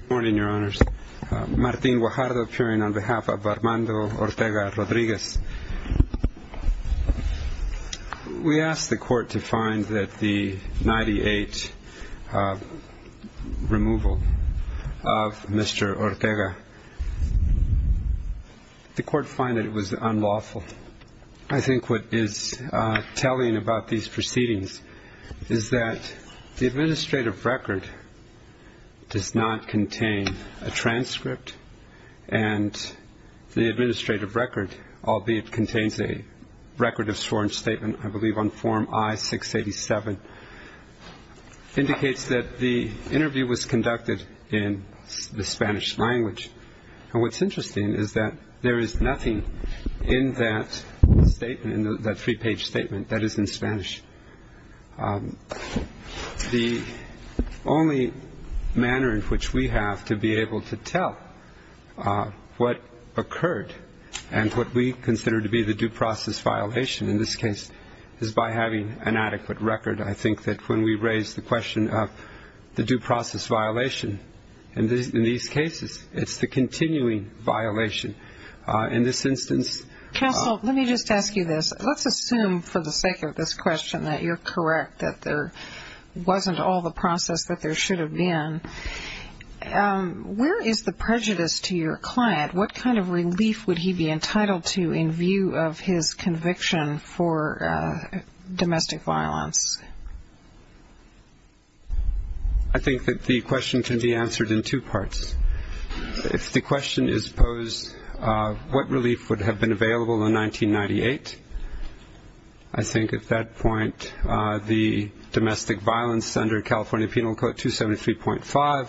Good morning, Your Honors. Martin Guajardo appearing on behalf of Armando Ortega-Rodriguez. We asked the court to find that the 98 removal of Mr. Ortega, the court find it was unlawful. I think what is telling about these proceedings is that the administrative record does not contain a transcript. And the administrative record, albeit contains a record of sworn statement, I believe on form I-687, indicates that the interview was conducted in the Spanish language. And what's interesting is that there is nothing in that statement, in that three-page statement, that is in Spanish. The only manner in which we have to be able to tell what occurred and what we consider to be the due process violation in this case is by having an adequate record. I think that when we raise the question of the due process violation in these cases, it's the continuing violation. In this instance- Castle, let me just ask you this. Let's assume for the sake of this question that you're correct, that there wasn't all the process that there should have been. Where is the prejudice to your client? What kind of relief would he be entitled to in view of his conviction for domestic violence? I think that the question can be answered in two parts. If the question is posed, what relief would have been available in 1998, I think at that point the domestic violence under California Penal Code 273.5,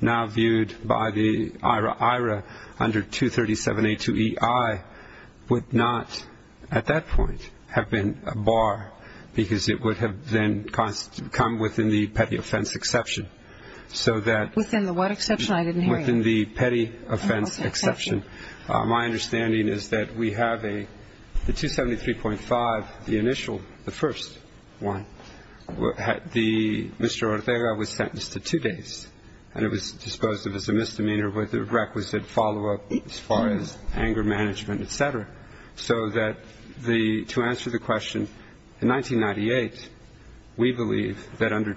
now viewed by the IRA under 237A2EI, would not, at that point, have been a bar because it would have then come within the petty offense exception. So that- Within the what exception? I didn't hear you. Within the petty offense exception. My understanding is that we have a, the 273.5, the initial, the first one, Mr. Ortega was sentenced to two days. And it was disposed of as a misdemeanor with a requisite follow-up as far as anger management, etc. So that the, to answer the question, in 1998, we believe that under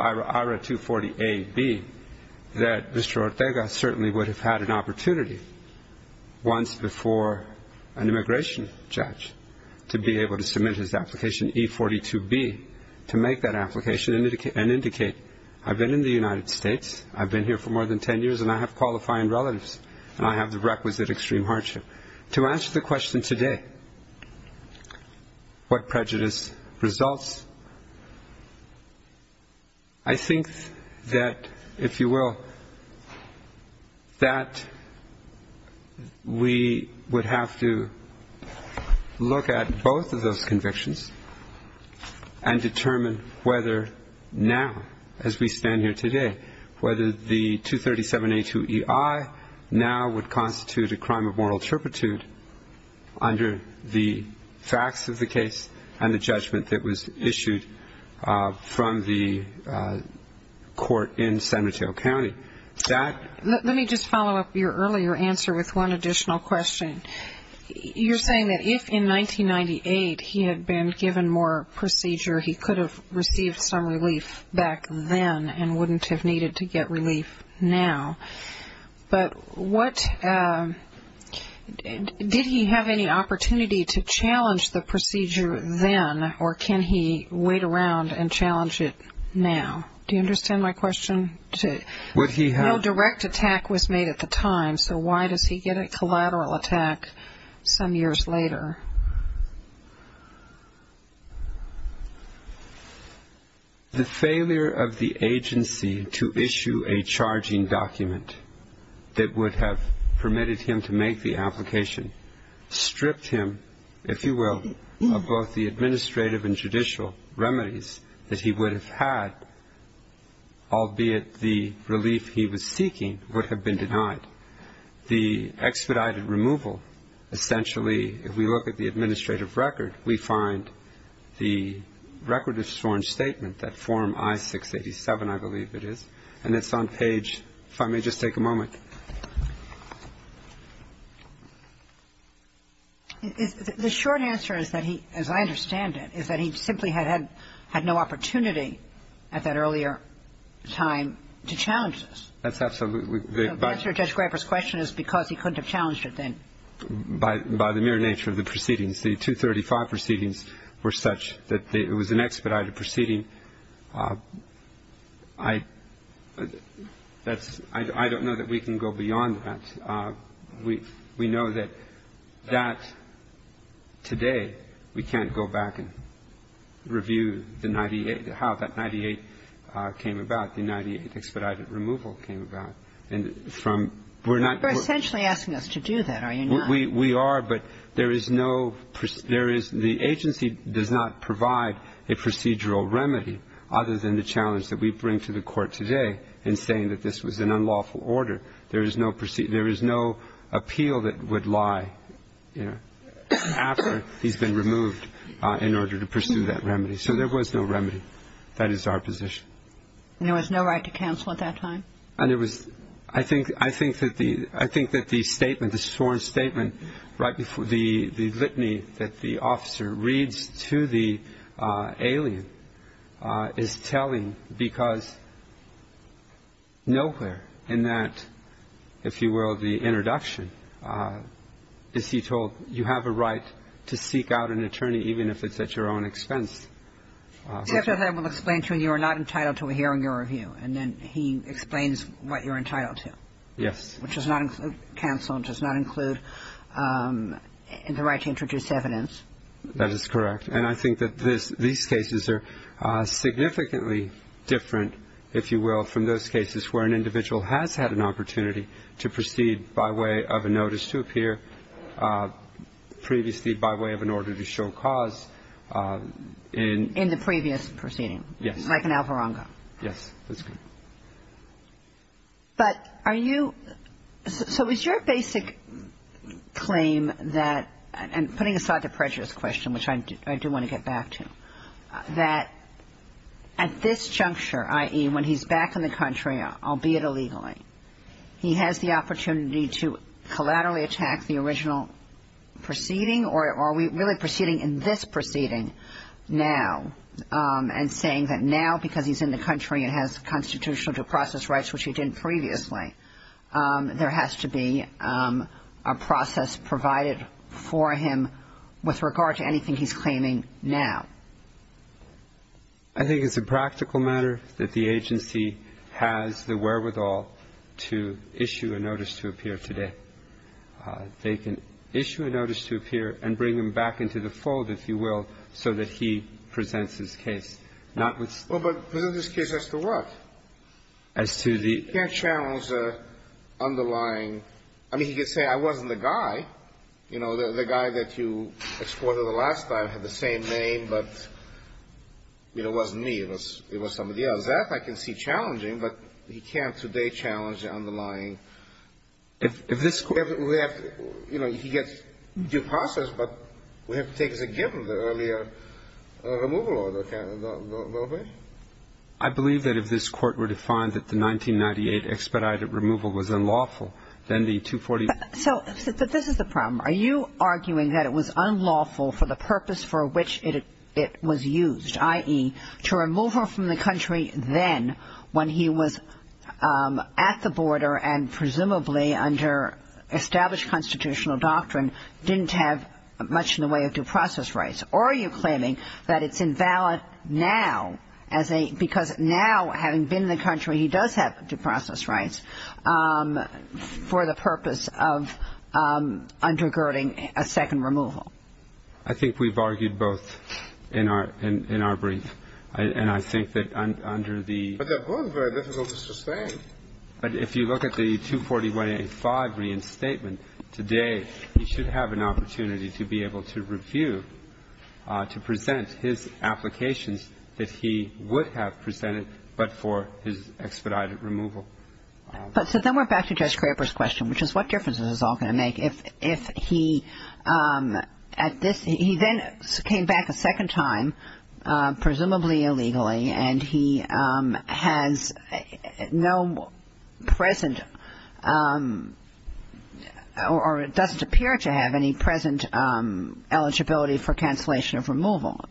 IRA 240AB, that Mr. Ortega certainly would have had an opportunity once before an immigration judge to be able to submit his application, E42B, to make that application and indicate, I've been in the United States, I've been here for more than 10 years, and I have qualifying relatives, and I have the requisite extreme hardship. To answer the question today, what prejudice results, I think that, if you will, that we would have to look at both of those convictions and determine whether now, as we stand here today, whether the 237A2EI now would constitute a crime of moral turpitude under the facts of the case and the judgment that was issued from the court in San Mateo County. That- Let me just follow up your earlier answer with one additional question. You're saying that if, in 1998, he had been given more procedure, he could have received some relief back then and wouldn't have needed to get relief now. But what, did he have any opportunity to challenge the procedure then, or can he wait around and challenge it now? Do you understand my question? Would he have- The failure of the agency to issue a charging document that would have permitted him to make the application stripped him, if you will, of both the administrative and judicial remedies that he would have had, albeit the relief he was seeking, would have been denied. The expedited removal, essentially, if we look at the administrative record, we find the record of sworn statement, that form I-687, I believe it is, and it's on page, if I may just take a moment. The short answer is that he, as I understand it, is that he simply had no opportunity at that earlier time to challenge this. That's absolutely- So the answer to Judge Graber's question is because he couldn't have challenged it then. By the mere nature of the proceedings. The 235 proceedings were such that it was an expedited proceeding. I don't know that we can go beyond that. We know that that today, we can't go back and review the 98, how that 98 came about, the 98 expedited removal came about. And from- You're essentially asking us to do that, are you not? We are, but there is no- The agency does not provide a procedural remedy other than the challenge that we bring to the Court today in saying that this was an unlawful order. There is no appeal that would lie after he's been removed in order to pursue that remedy. So there was no remedy. That is our position. And there was no right to counsel at that time? I think that the statement, the sworn statement, the litany that the officer reads to the alien is telling because nowhere in that, if you will, the introduction is he told you have a right to seek out an attorney even if it's at your own expense. Which I will explain to you, you are not entitled to a hearing or a review, and then he explains what you're entitled to. Yes. Which does not include counsel, does not include the right to introduce evidence. That is correct. And I think that these cases are significantly different, if you will, from those cases where an individual has had an opportunity to proceed by way of a notice to appear previously by way of an order to show cause. In the previous proceeding. Yes. Like an alvarongo. Yes. That's correct. But are you, so is your basic claim that, and putting aside the prejudice question, which I do want to get back to, that at this juncture, i.e. when he's back in the country, albeit illegally, he has the opportunity to collaterally attack the original proceeding? Or are we really proceeding in this proceeding now and saying that now, because he's in the country and has constitutional due process rights, which he didn't previously, there has to be a process provided for him with regard to anything he's claiming now? I think it's a practical matter that the agency has the wherewithal to issue a notice to appear today. They can issue a notice to appear and bring him back into the fold, if you will, so that he presents his case. Not with the law. But present his case as to what? As to the other. He can't challenge the underlying. I mean, he could say I wasn't the guy. You know, the guy that you exported the last time had the same name, but, you know, it wasn't me. It was somebody else. That I can see challenging, but he can't today challenge the underlying. If this court we have to, you know, he gets due process, but we have to take as a given the earlier removal order, can't we go that way? I believe that if this court were to find that the 1998 expedited removal was unlawful, then the 240. So this is the problem. Are you arguing that it was unlawful for the purpose for which it was used, i.e., to remove him from the country then when he was at the border? And presumably under established constitutional doctrine, didn't have much in the way of due process rights? Or are you claiming that it's invalid now as a — because now, having been in the country, he does have due process rights for the purpose of undergirding a second removal? I think we've argued both in our brief. And I think that under the — But they're both very difficult to sustain. But if you look at the 241A5 reinstatement today, he should have an opportunity to be able to review, to present his applications if he would have presented, but for his expedited removal. But so then we're back to Judge Kramer's question, which is what difference is this all going to make if he — at this — he then came back a second time, presumably illegally, and he has no present — or doesn't appear to have any present eligibility for cancellation of removal?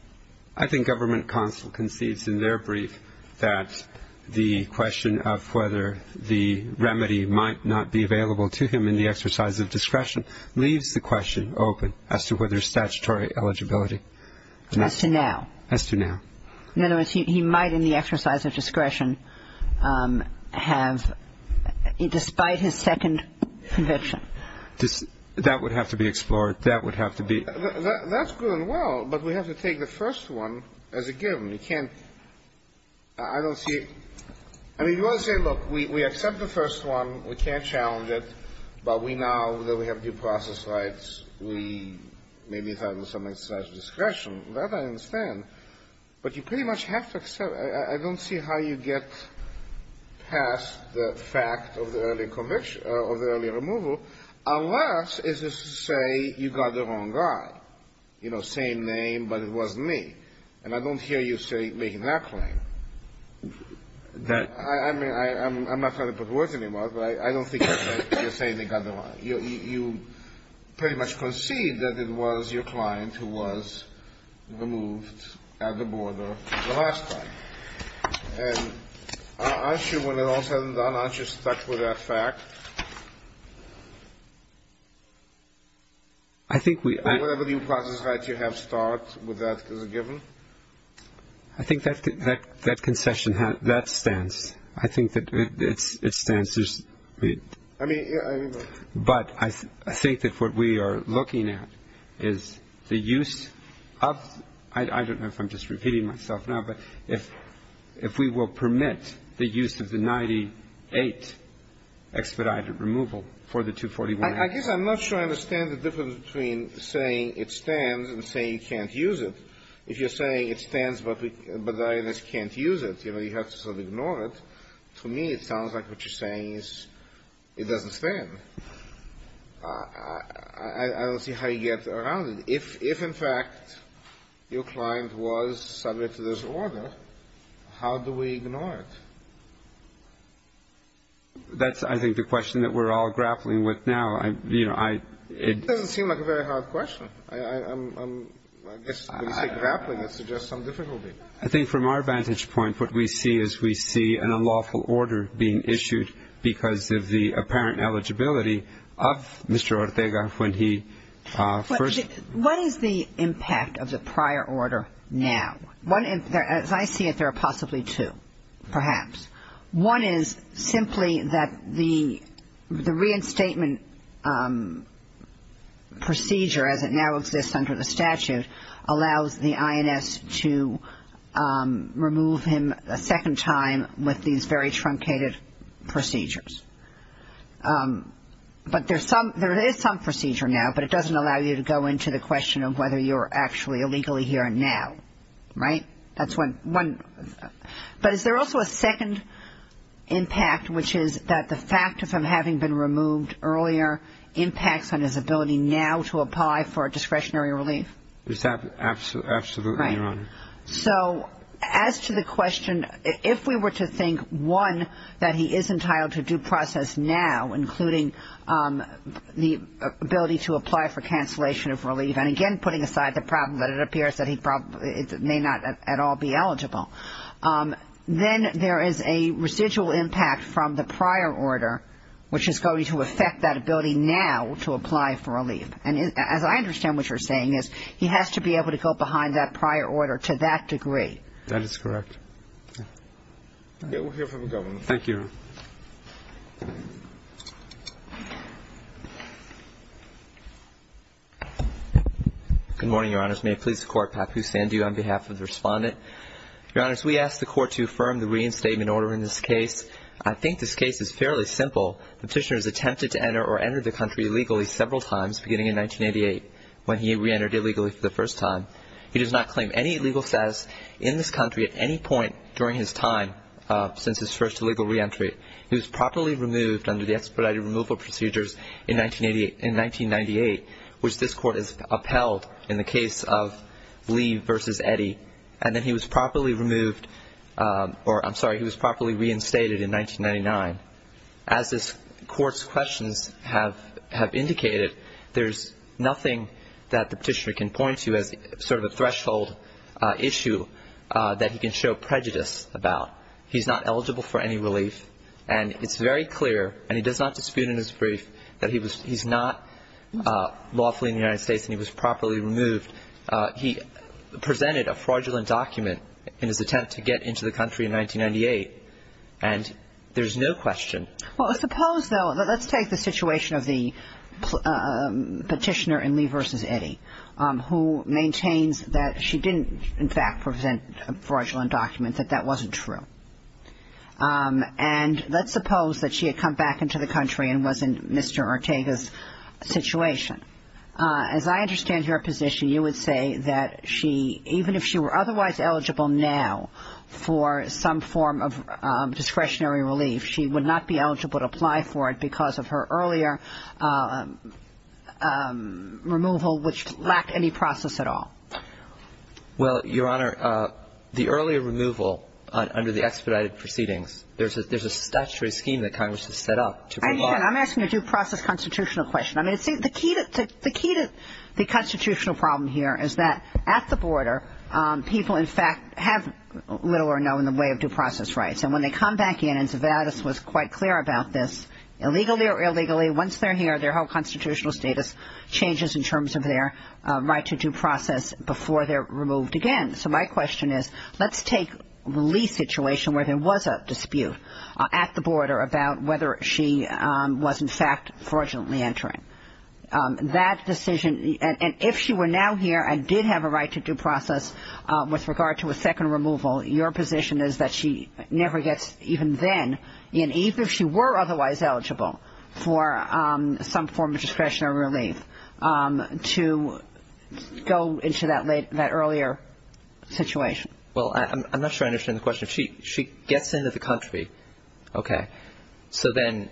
I think Government Counsel concedes in their brief that the question of whether the remedy might not be available to him in the exercise of discretion leaves the question open as to whether statutory eligibility. As to now? As to now. In other words, he might in the exercise of discretion have — despite his second conviction. That would have to be explored. That would have to be — That's good and well, but we have to take the first one as a given. You can't — I don't see — I mean, you want to say, look, we accept the first one, we can't challenge it, but we now that we have due process rights, we maybe thought it was some exercise of discretion. That I understand, but you pretty much have to accept — I don't see how you get past the fact of the early — of the early removal, unless, is this to say, you got the wrong guy. You know, same name, but it wasn't me, and I don't hear you say — making that claim. That — I mean, I'm not trying to put words in your mouth, but I don't think you're saying they got the wrong — you pretty much concede that it was your client who was — removed at the border the last time. And aren't you, when it all is said and done, aren't you stuck with that fact? I think we — Whatever due process rights you have start with that as a given? I think that concession — that stance, I think that it stands to — I mean — But I think that what we are looking at is the use of — I don't know if I'm just repeating myself now, but if we will permit the use of the 98 expedited removal for the 241 — I guess I'm not sure I understand the difference between saying it stands and saying you can't use it. If you're saying it stands, but the IRS can't use it, you know, you have to sort of ignore it. To me, it sounds like what you're saying is it doesn't stand. I don't see how you get around it. If, in fact, your client was subject to this order, how do we ignore it? That's, I think, the question that we're all grappling with now. You know, I — It doesn't seem like a very hard question. I guess when you say grappling, it suggests some difficulty. I think from our vantage point, what we see is we see an unlawful order being issued because of the apparent eligibility of Mr. Ortega when he first — What is the impact of the prior order now? One — as I see it, there are possibly two, perhaps. One is simply that the reinstatement procedure, as it now exists under the statute, allows the INS to remove him a second time with these very truncated procedures. But there's some — there is some procedure now, but it doesn't allow you to go into the question of whether you're actually illegally here now, right? That's one — but is there also a second impact, which is that the fact of him having been removed earlier impacts on his ability now to apply for discretionary relief? Is that — absolutely, Your Honor. So as to the question, if we were to think, one, that he is entitled to due process now, and again, putting aside the problem that it appears that he may not at all be eligible, then there is a residual impact from the prior order, which is going to affect that ability now to apply for relief. And as I understand what you're saying is he has to be able to go behind that prior order to that degree. That is correct. We'll hear from the Governor. Thank you, Your Honor. Good morning, Your Honors. May it please the Court, Papu Sandhu on behalf of the Respondent. Your Honors, we ask the Court to affirm the reinstatement order in this case. I think this case is fairly simple. Petitioner has attempted to enter or enter the country illegally several times beginning in 1988 when he reentered illegally for the first time. He does not claim any legal status in this country at any point during his time since his first illegal reentry. He was properly removed under the expedited removal procedures in 1988 — in 1998, which this Court has upheld in the case of Lee v. Eddy. And then he was properly removed — or, I'm sorry, he was properly reinstated in 1999. As this Court's questions have indicated, there's nothing that the Petitioner can point to as sort of a threshold issue that he can show prejudice about. He's not eligible for any relief. And it's very clear, and he does not dispute in his brief, that he was — he's not lawfully in the United States and he was properly removed. He presented a fraudulent document in his attempt to get into the country in 1998, and there's no question. Well, suppose, though — let's take the situation of the Petitioner in Lee v. Eddy, who maintains that she didn't, in fact, present a fraudulent document, that that wasn't true. And let's suppose that she had come back into the country and was in Mr. Ortega's situation. As I understand your position, you would say that she — even if she were otherwise eligible now for some form of discretionary relief, she would not be eligible to apply for it because of her earlier removal, which lacked any process at all. Well, Your Honor, the earlier removal under the expedited proceedings, there's a — there's a statutory scheme that Congress has set up to — Again, I'm asking a due process constitutional question. I mean, see, the key to — the key to the constitutional problem here is that at the border, people, in fact, have little or no in the way of due process rights. And when they come back in — and Zavados was quite clear about this — illegally or illegally, once they're here, their whole constitutional status changes in terms of their right to due process before they're removed again. So my question is, let's take the Lee situation where there was a dispute at the border about whether she was, in fact, fraudulently entering. That decision — and if she were now here and did have a right to due process with regard to a second removal, your position is that she never gets, even then, and even if she were otherwise eligible for some form of discretionary relief, to go into that earlier situation? Well, I'm not sure I understand the question. She gets into the country, okay. So then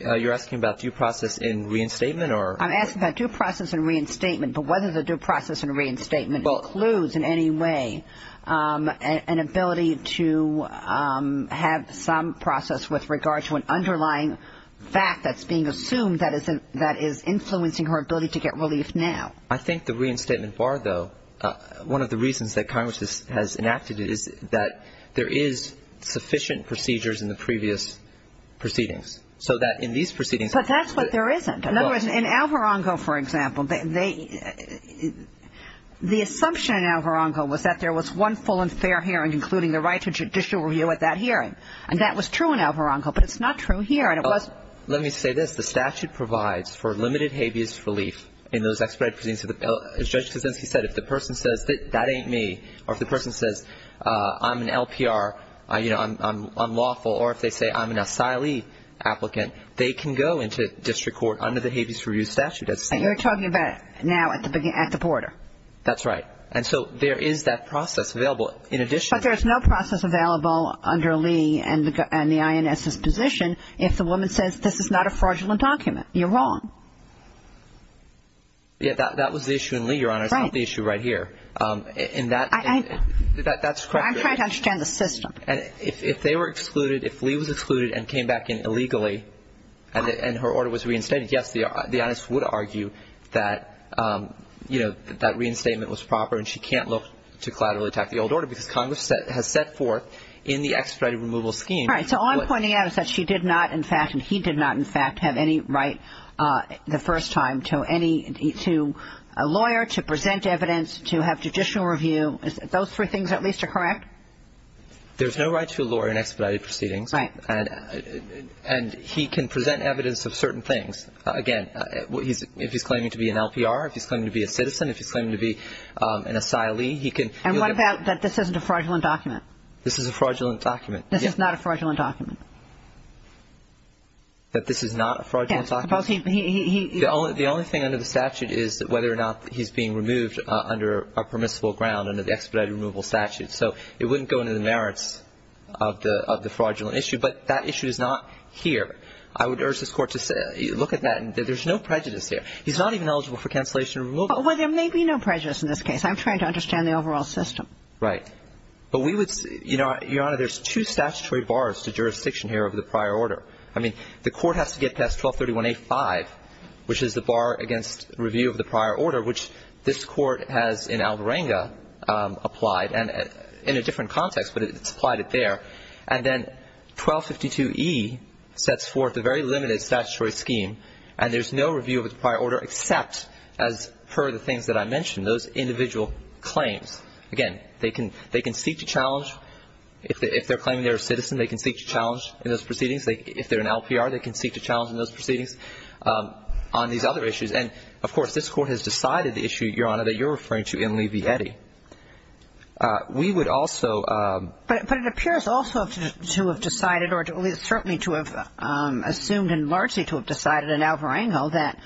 you're asking about due process in reinstatement or — I'm asking about due process in reinstatement, but whether the due process in reinstatement includes in any way an ability to have some process with regard to an underlying fact that's being assumed that is influencing her ability to get relief now? I think the reinstatement bar, though — one of the reasons that Congress has enacted it is that there is sufficient procedures in the previous proceedings. So that in these proceedings — But that's what there isn't. In other words, in Alvarongo, for example, the assumption in Alvarongo was that there was one full and fair hearing, including the right to judicial review at that hearing. And that was true in Alvarongo, but it's not true here. Let me say this. The statute provides for limited habeas relief in those expedited proceedings. As Judge Kuczynski said, if the person says, that ain't me, or if the person says, I'm an LPR, I'm unlawful, or if they say I'm an asylee applicant, they can go into district court under the habeas relief statute. And you're talking about now at the border. That's right. And so there is that process available. In addition — But there's no process available under Lee and the INS's position if the woman says, this is not a fraudulent document. You're wrong. Yeah, that was the issue in Lee, Your Honor. It's not the issue right here. And that's correct. I'm trying to understand the system. And if they were excluded, if Lee was excluded and came back in illegally, and her order was reinstated, yes, the INS would argue that, you know, that reinstatement was proper, and she can't look to collaterally attack the old order, because Congress has set forth in the expedited removal scheme — And he did not, in fact, have any right the first time to any — to a lawyer, to present evidence, to have judicial review. Those three things at least are correct? There's no right to a lawyer in expedited proceedings. And he can present evidence of certain things. Again, if he's claiming to be an LPR, if he's claiming to be a citizen, if he's claiming to be an asylee, he can — And what about that this isn't a fraudulent document? This is a fraudulent document. This is not a fraudulent document. That this is not a fraudulent document? Yes. Suppose he — The only thing under the statute is whether or not he's being removed under a permissible ground under the expedited removal statute. So it wouldn't go into the merits of the fraudulent issue. But that issue is not here. I would urge this Court to look at that. There's no prejudice here. He's not even eligible for cancellation and removal. Well, there may be no prejudice in this case. I'm trying to understand the overall system. Right. But we would — You know, Your Honor, there's two statutory bars to jurisdiction here over the prior order. I mean, the Court has to get past 1231A-5, which is the bar against review of the prior order, which this Court has in Algoranga applied, and in a different context, but it's applied it there. And then 1252E sets forth a very limited statutory scheme. And there's no review of the prior order except as per the things that I mentioned, those individual claims. Again, they can seek to challenge — If they're claiming they're a citizen, they can seek to challenge in those proceedings. If they're an LPR, they can seek to challenge in those proceedings on these other issues. And, of course, this Court has decided the issue, Your Honor, that you're referring to in Levietti. We would also — But it appears also to have decided or certainly to have assumed and largely to have decided in Algoranga that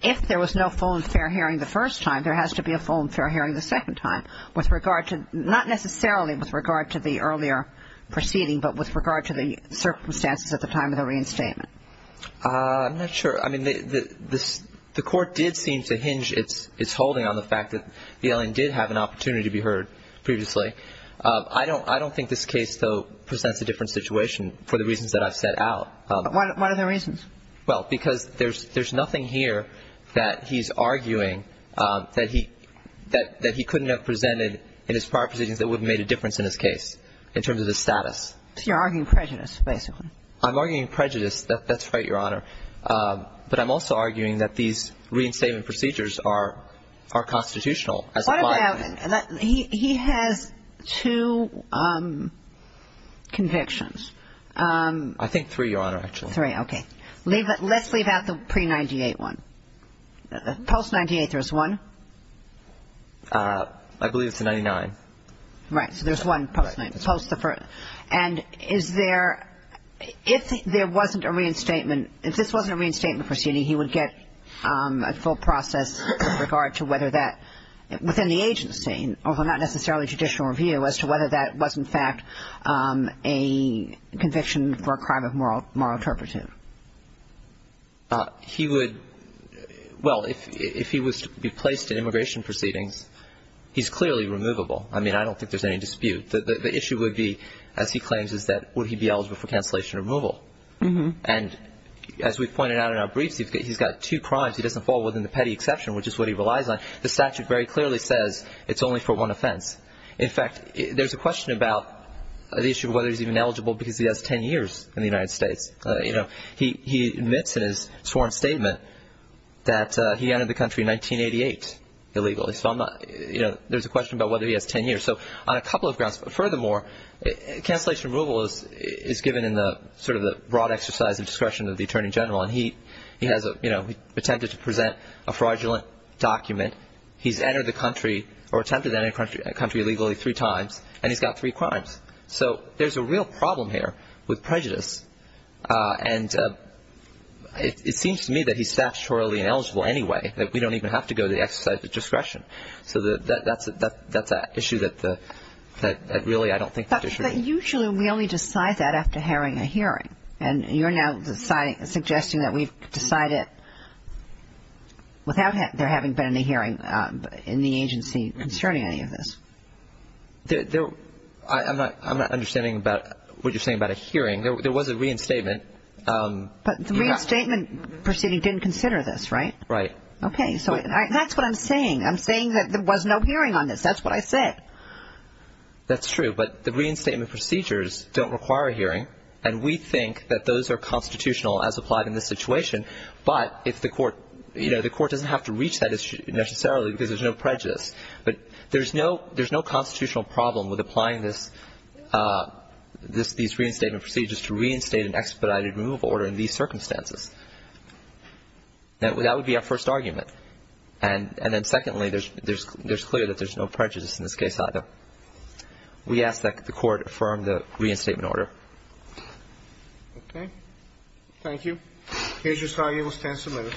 if there was no full and fair hearing the first time, there has to be a full and fair hearing the second time with regard to — not necessarily with regard to the earlier proceeding, but with regard to the circumstances at the time of the reinstatement. I'm not sure. I mean, the Court did seem to hinge its holding on the fact that the LN did have an opportunity to be heard previously. I don't think this case, though, presents a different situation for the reasons that I've set out. But what are the reasons? Well, because there's nothing here that he's arguing that he couldn't have presented in his prior proceedings that would have made a difference in his case in terms of his status. So you're arguing prejudice, basically. I'm arguing prejudice. That's right, Your Honor. But I'm also arguing that these reinstatement procedures are constitutional as applied. He has two convictions. I think three, Your Honor, actually. Three. Okay. Let's leave out the pre-'98 one. Post-'98, there was one. I believe it's the '99. Right. So there's one post-the first. And is there – if there wasn't a reinstatement – if this wasn't a reinstatement proceeding, he would get a full process with regard to whether that – within the agency, although not necessarily judicial review, as to whether that was, in fact, a conviction for a crime of moral interpretation. He would – well, if he was to be placed in immigration proceedings, he's clearly removable. I mean, I don't think there's any dispute. The issue would be, as he claims, is that would he be eligible for cancellation removal. And as we've pointed out in our briefs, he's got two crimes. He doesn't fall within the petty exception, which is what he relies on. The statute very clearly says it's only for one offense. In fact, there's a question about the issue of whether he's even eligible because he has 10 years in the United States. He admits in his sworn statement that he entered the country in 1988 illegally. So I'm not – there's a question about whether he has 10 years. So on a couple of grounds. Furthermore, cancellation removal is given in the – sort of the broad exercise of discretion of the attorney general. And he has attempted to present a fraudulent document. He's entered the country or attempted to enter the country illegally three times. And he's got three crimes. So there's a real problem here with prejudice. And it seems to me that he's statutorily ineligible anyway, that we don't even have to go to the exercise of discretion. So that's an issue that really I don't think there should be. But usually we only decide that after hearing a hearing. And you're now suggesting that we decide it without there having been any hearing in the agency concerning any of this. There – I'm not understanding about what you're saying about a hearing. There was a reinstatement. But the reinstatement proceeding didn't consider this, right? Right. Okay. So that's what I'm saying. I'm saying that there was no hearing on this. That's what I said. That's true. But the reinstatement procedures don't require a hearing. And we think that those are constitutional as applied in this situation. But if the court – you know, the court doesn't have to reach that issue necessarily because there's no prejudice. But there's no – there's no constitutional problem with applying this – these reinstatement procedures to reinstate an expedited removal order in these circumstances. That would be our first argument. And then secondly, there's clear that there's no prejudice in this case either. We ask that the court affirm the reinstatement order. Okay. Thank you. Here's your slide. You will stand submitted.